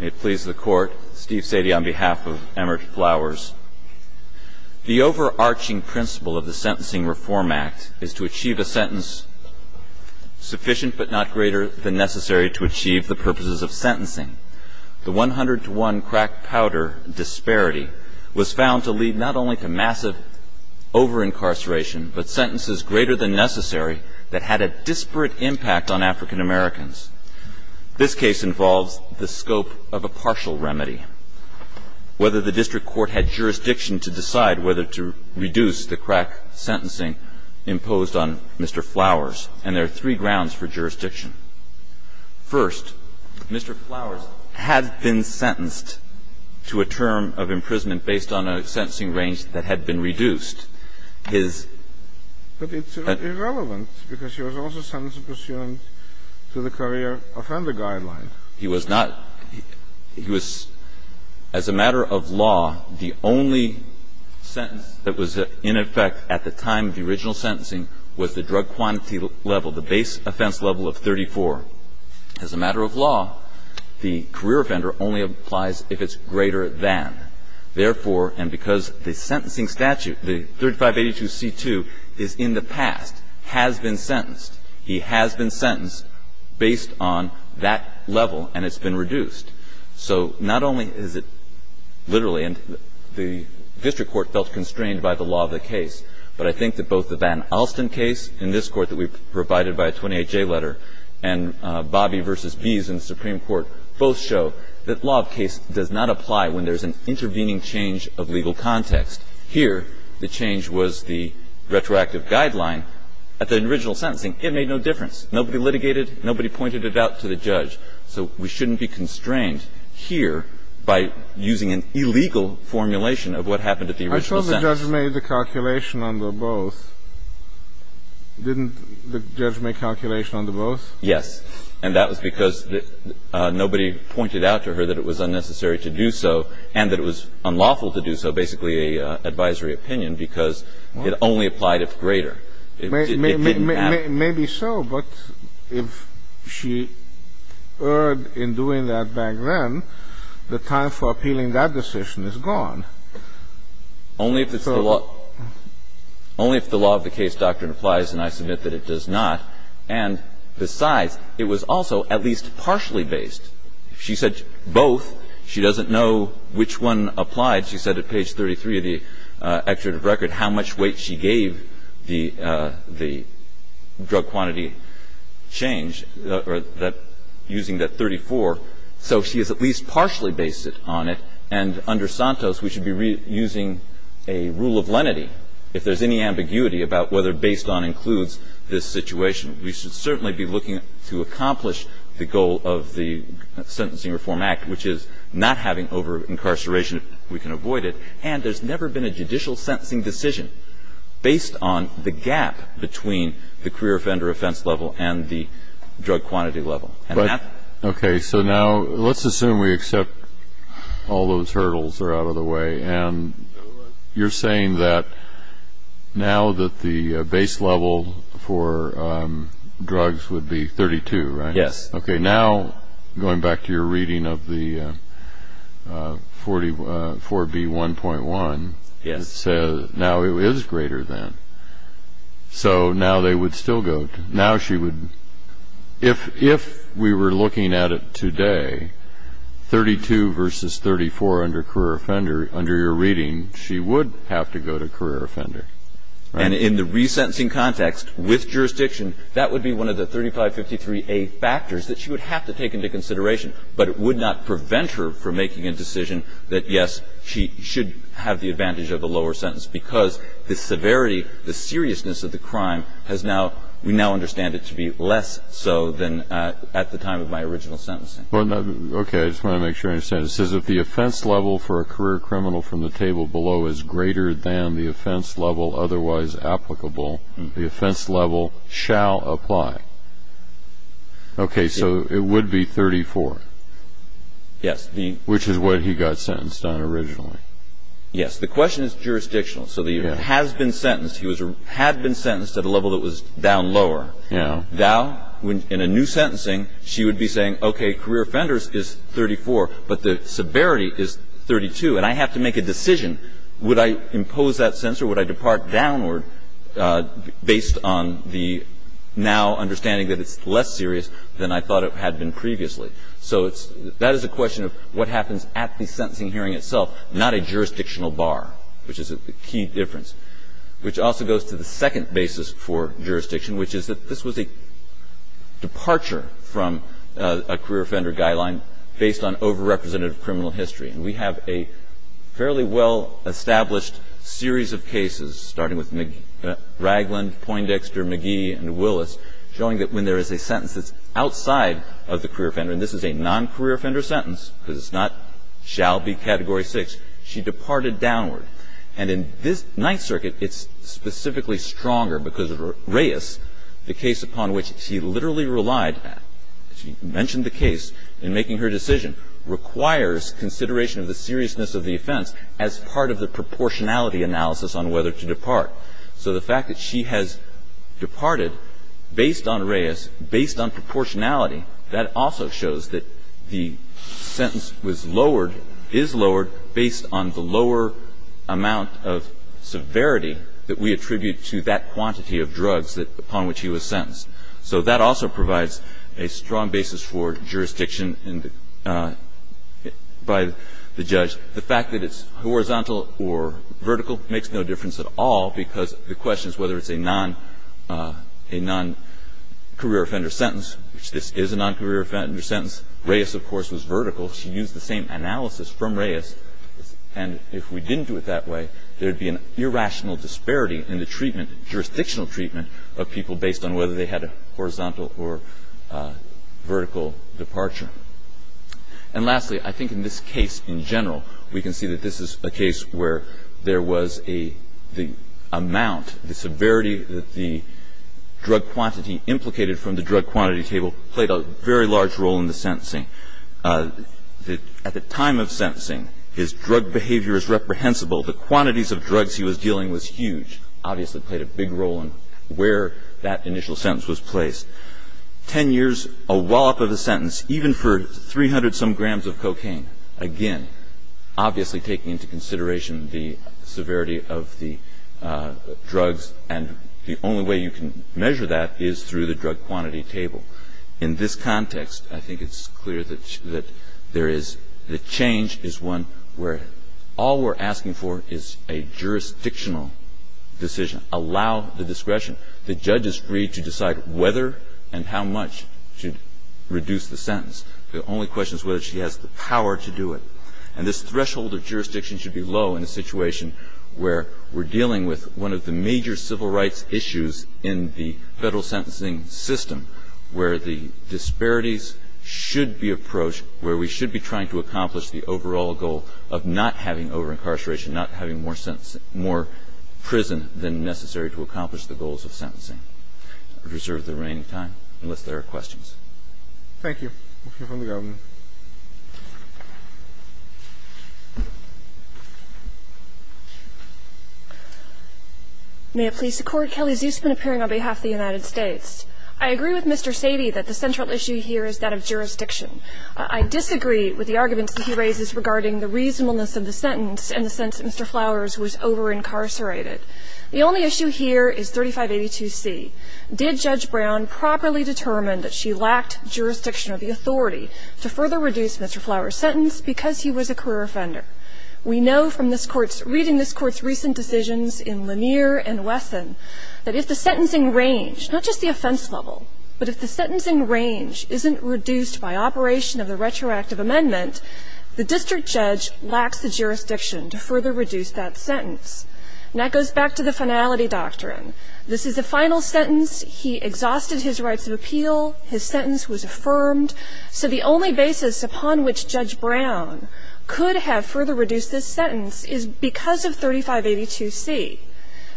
May it please the court, Steve Sadie on behalf of Emert Flowers. The overarching principle of the Sentencing Reform Act is to achieve a sentence sufficient but not greater than necessary to achieve the purposes of sentencing. The 100 to 1 crack powder disparity was found to lead not only to massive over-incarceration, but sentences greater than necessary that had a disparate impact on African Americans. This case involves the scope of a partial remedy. Whether the district court had jurisdiction to decide whether to reduce the crack sentencing imposed on Mr. Flowers. And there are three grounds for jurisdiction. First, Mr. Flowers had been sentenced to a term of imprisonment based on a sentencing range that had been reduced. But it's irrelevant because he was also sentenced to the career offender guideline. He was not. He was, as a matter of law, the only sentence that was in effect at the time of the original sentencing was the drug quantity level, the base offense level of 34. As a matter of law, the career offender only applies if it's greater than. Therefore, and because the sentencing statute, the 3582C2 is in the past, has been sentenced. He has been sentenced based on that level, and it's been reduced. So not only is it literally, and the district court felt constrained by the law of the case, but I think that both the Van Alsten case in this Court that we've provided by a 28-J letter and Bobby v. Bees in the Supreme Court both show that law of case does not apply when there's an intervening change of legal context. Here, the change was the retroactive guideline. At the original sentencing, it made no difference. Nobody litigated. Nobody pointed it out to the judge. So we shouldn't be constrained here by using an illegal formulation of what happened at the original sentence. I thought the judge made the calculation on the both. Didn't the judge make calculation on the both? Yes. And that was because nobody pointed out to her that it was unnecessary to do so and that it was unlawful to do so, basically an advisory opinion, because it only applied if greater. Maybe so, but if she erred in doing that back then, the time for appealing that decision is gone. Only if it's the law of the case doctrine applies, and I submit that it does not. And besides, it was also at least partially based. She said both. She doesn't know which one applied. She said at page 33 of the executive record how much weight she gave the drug quantity change using that 34. So she is at least partially based on it. And under Santos, we should be using a rule of lenity. If there's any ambiguity about whether based on includes this situation, we should certainly be looking to accomplish the goal of the Sentencing Reform Act, which is not having over-incarceration if we can avoid it. And there's never been a judicial sentencing decision based on the gap between the career offender offense level and the drug quantity level. Okay. So now let's assume we accept all those hurdles are out of the way. And you're saying that now that the base level for drugs would be 32, right? Yes. Okay. Now, going back to your reading of the 4B1.1, it says now it is greater than. So now they would still go. But now she would, if we were looking at it today, 32 versus 34 under career offender, under your reading, she would have to go to career offender, right? And in the resentencing context with jurisdiction, that would be one of the 3553A factors that she would have to take into consideration, but it would not prevent her from making a decision that, yes, she should have the advantage of the lower sentence because the severity, the seriousness of the crime has now, we now understand it to be less so than at the time of my original sentencing. Okay. I just want to make sure I understand. It says if the offense level for a career criminal from the table below is greater than the offense level otherwise applicable, the offense level shall apply. Okay. So it would be 34. Yes. Which is what he got sentenced on originally. Yes. The question is jurisdictional. So he has been sentenced. He had been sentenced at a level that was down lower. Yes. Now, in a new sentencing, she would be saying, okay, career offender is 34, but the severity is 32, and I have to make a decision. Would I impose that sentence or would I depart downward based on the now understanding that it's less serious than I thought it had been previously? So that is a question of what happens at the sentencing hearing itself, not a jurisdictional bar, which is a key difference, which also goes to the second basis for jurisdiction, which is that this was a departure from a career offender guideline based on over-representative criminal history. And we have a fairly well-established series of cases, starting with Ragland, Poindexter, McGee, and Willis, showing that when there is a sentence that's outside of the career offender and this is a non-career offender sentence because it's not shall be category 6, she departed downward. And in this Ninth Circuit, it's specifically stronger because of Reyes, the case upon which she literally relied, she mentioned the case in making her decision, requires consideration of the seriousness of the offense as part of the proportionality analysis on whether to depart. So the fact that she has departed based on Reyes, based on proportionality, that also shows that the sentence was lowered, is lowered based on the lower amount of severity that we attribute to that quantity of drugs upon which he was sentenced. So that also provides a strong basis for jurisdiction by the judge. The fact that it's horizontal or vertical makes no difference at all because the question is whether it's a non-career offender sentence, which this is a non-career offender sentence. Reyes, of course, was vertical. She used the same analysis from Reyes. And if we didn't do it that way, there would be an irrational disparity in the treatment, jurisdictional treatment of people based on whether they had a horizontal or vertical departure. And lastly, I think in this case in general, we can see that this is a case where there was a the amount, the severity that the drug quantity implicated from the drug quantity table played a very large role in the sentencing. At the time of sentencing, his drug behavior is reprehensible. The quantities of drugs he was dealing was huge, obviously played a big role in where that initial sentence was placed. Ten years, a wallop of a sentence, even for 300-some grams of cocaine, again, obviously taking into consideration the severity of the drugs. And the only way you can measure that is through the drug quantity table. In this context, I think it's clear that there is the change is one where all we're asking for is a jurisdictional decision. Allow the discretion. The judge is free to decide whether and how much to reduce the sentence. The only question is whether she has the power to do it. And this threshold of jurisdiction should be low in a situation where we're dealing with one of the major civil rights issues in the Federal sentencing system, where the disparities should be approached, where we should be trying to accomplish the overall goal of not having over-incarceration, not having more prison than necessary to accomplish the goals of sentencing. I would reserve the remaining time unless there are questions. Thank you. We'll hear from the Governor. May it please the Court. Kelly Zusman appearing on behalf of the United States. I agree with Mr. Sady that the central issue here is that of jurisdiction. I disagree with the arguments that he raises regarding the reasonableness of the sentence and the sense that Mr. Flowers was over-incarcerated. The only issue here is 3582C. Did Judge Brown properly determine that she lacked jurisdiction or the authority to further reduce Mr. Flowers' sentence because he was a career offender? We know from this Court's – reading this Court's recent decisions in Lanier and Wesson that if the sentencing range, not just the offense level, but if the sentencing range isn't reduced by operation of the retroactive amendment, the district judge lacks the jurisdiction to further reduce that sentence. And that goes back to the finality doctrine. This is the final sentence. He exhausted his rights of appeal. His sentence was affirmed. So the only basis upon which Judge Brown could have further reduced this sentence is because of 3582C.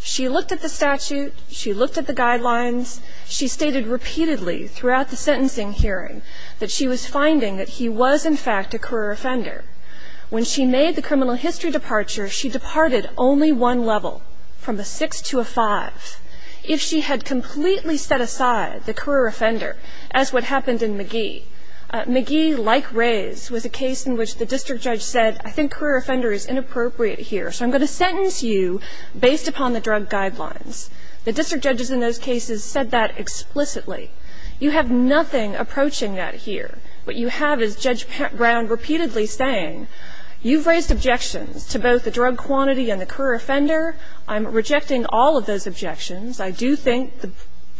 She looked at the statute. She looked at the guidelines. She stated repeatedly throughout the sentencing hearing that she was finding that he was, in fact, a career offender. When she made the criminal history departure, she departed only one level, from a 6 to a 5. If she had completely set aside the career offender, as what happened in Magee – Magee, like Rays, was a case in which the district judge said, I think career offender is inappropriate here, so I'm going to sentence you based upon the drug guidelines. The district judges in those cases said that explicitly. You have nothing approaching that here. What you have is Judge Brown repeatedly saying, you've raised objections to both the drug quantity and the career offender. I'm rejecting all of those objections. I do think the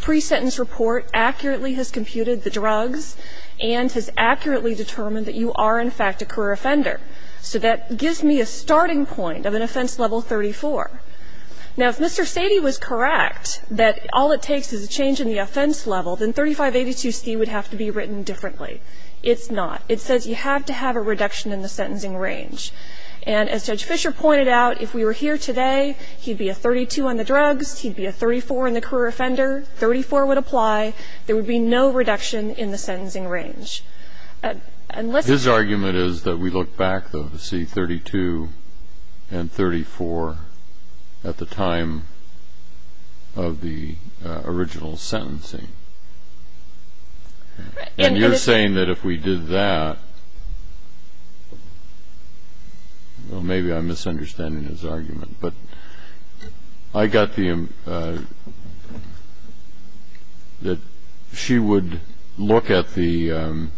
pre-sentence report accurately has computed the drugs and has accurately determined that you are, in fact, a career offender. So that gives me a starting point of an offense level 34. Now, if Mr. Sadie was correct that all it takes is a change in the offense level, then 3582C would have to be written differently. It's not. It says you have to have a reduction in the sentencing range. And as Judge Fisher pointed out, if we were here today, he'd be a 32 on the drugs, he'd be a 34 on the career offender. 34 would apply. There would be no reduction in the sentencing range. And let's just – And you're saying that if we did that – well, maybe I'm misunderstanding his argument. But I got the – that she would look at the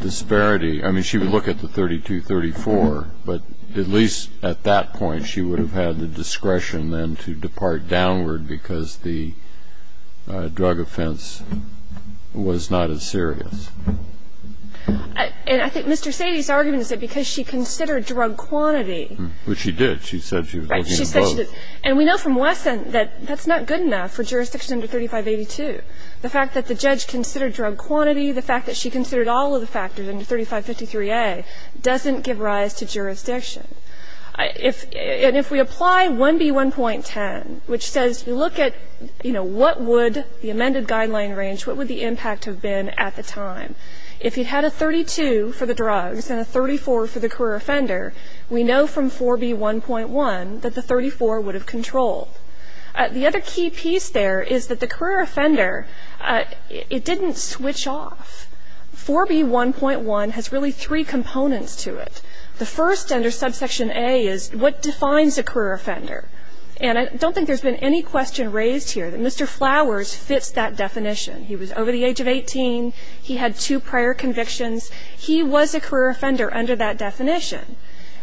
disparity – I mean, she would look at the 32, 34, but at least at that point she would have had the discretion then to depart downward because the drug offense was not as serious. And I think Mr. Sadie's argument is that because she considered drug quantity – Which she did. She said she was looking at both. Right. She said she did. And we know from Wesson that that's not good enough for jurisdiction under 3582. The fact that the judge considered drug quantity, the fact that she considered all of the factors under 3553A doesn't give rise to jurisdiction. And if we apply 1B1.10, which says you look at, you know, what would – the amended guideline range, what would the impact have been at the time? If you had a 32 for the drugs and a 34 for the career offender, we know from 4B1.1 that the 34 would have controlled. The other key piece there is that the career offender, it didn't switch off. 4B1.1 has really three components to it. The first under subsection A is what defines a career offender. And I don't think there's been any question raised here that Mr. Flowers fits that definition. He was over the age of 18. He had two prior convictions. He was a career offender under that definition.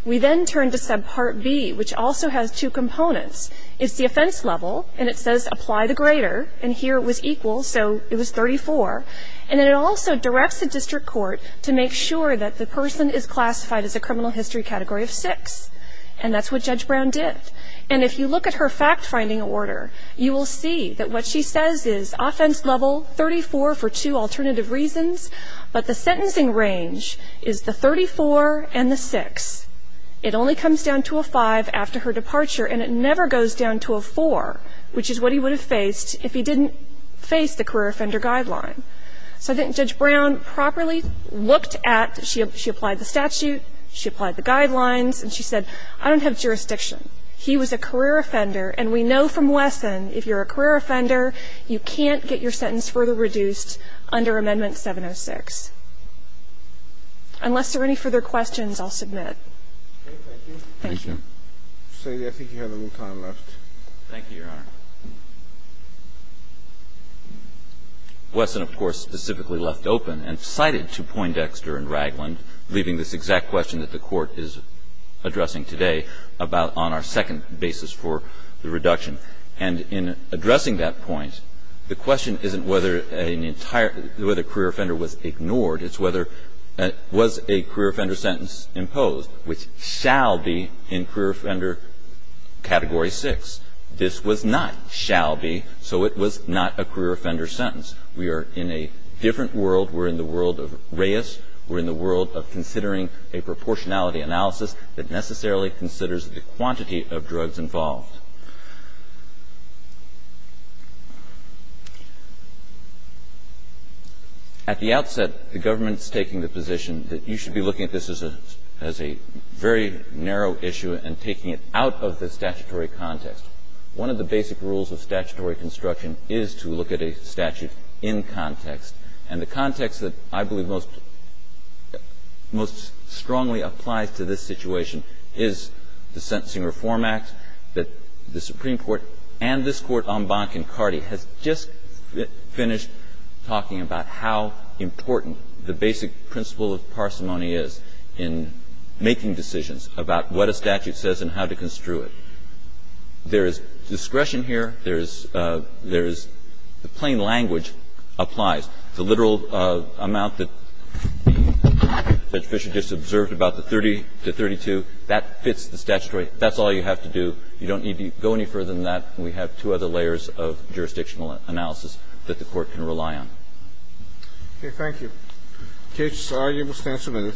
We then turn to subpart B, which also has two components. It's the offense level, and it says apply the grader. And here it was equal, so it was 34. And it also directs the district court to make sure that the person is classified as a criminal history category of 6, and that's what Judge Brown did. And if you look at her fact-finding order, you will see that what she says is offense level 34 for two alternative reasons, but the sentencing range is the 34 and the 6. It only comes down to a 5 after her departure, and it never goes down to a 4, which is what he would have faced if he didn't face the career offender guideline. So I think Judge Brown properly looked at, she applied the statute, she applied the guidelines, and she said, I don't have jurisdiction. He was a career offender, and we know from Wesson, if you're a career offender, you can't get your sentence further reduced under Amendment 706. Unless there are any further questions, I'll submit. Thank you. Thank you, Your Honor. Wesson, of course, specifically left open and cited to Poindexter and Ragland, leaving this exact question that the Court is addressing today about on our second basis for the reduction. And in addressing that point, the question isn't whether an entire career offender was ignored, it's whether was a career offender sentence imposed, which shall be imposed in career offender Category 6. This was not shall be, so it was not a career offender sentence. We are in a different world. We're in the world of Reyes. We're in the world of considering a proportionality analysis that necessarily considers the quantity of drugs involved. At the outset, the government is taking the position that you should be looking I think this is a very narrow issue and taking it out of the statutory context. One of the basic rules of statutory construction is to look at a statute in context. And the context that I believe most strongly applies to this situation is the Sentencing Reform Act, that the Supreme Court and this Court, Embank and Cardi, has just finished talking about how important the basic principle of parsimony is in making decisions about what a statute says and how to construe it. There is discretion here. There is the plain language applies. The literal amount that Judge Fischer just observed about the 30 to 32, that fits the statutory. That's all you have to do. You don't need to go any further than that. We have two other layers of jurisdictional analysis that the Court can rely on. Okay. Thank you. Case, you will stand submitted.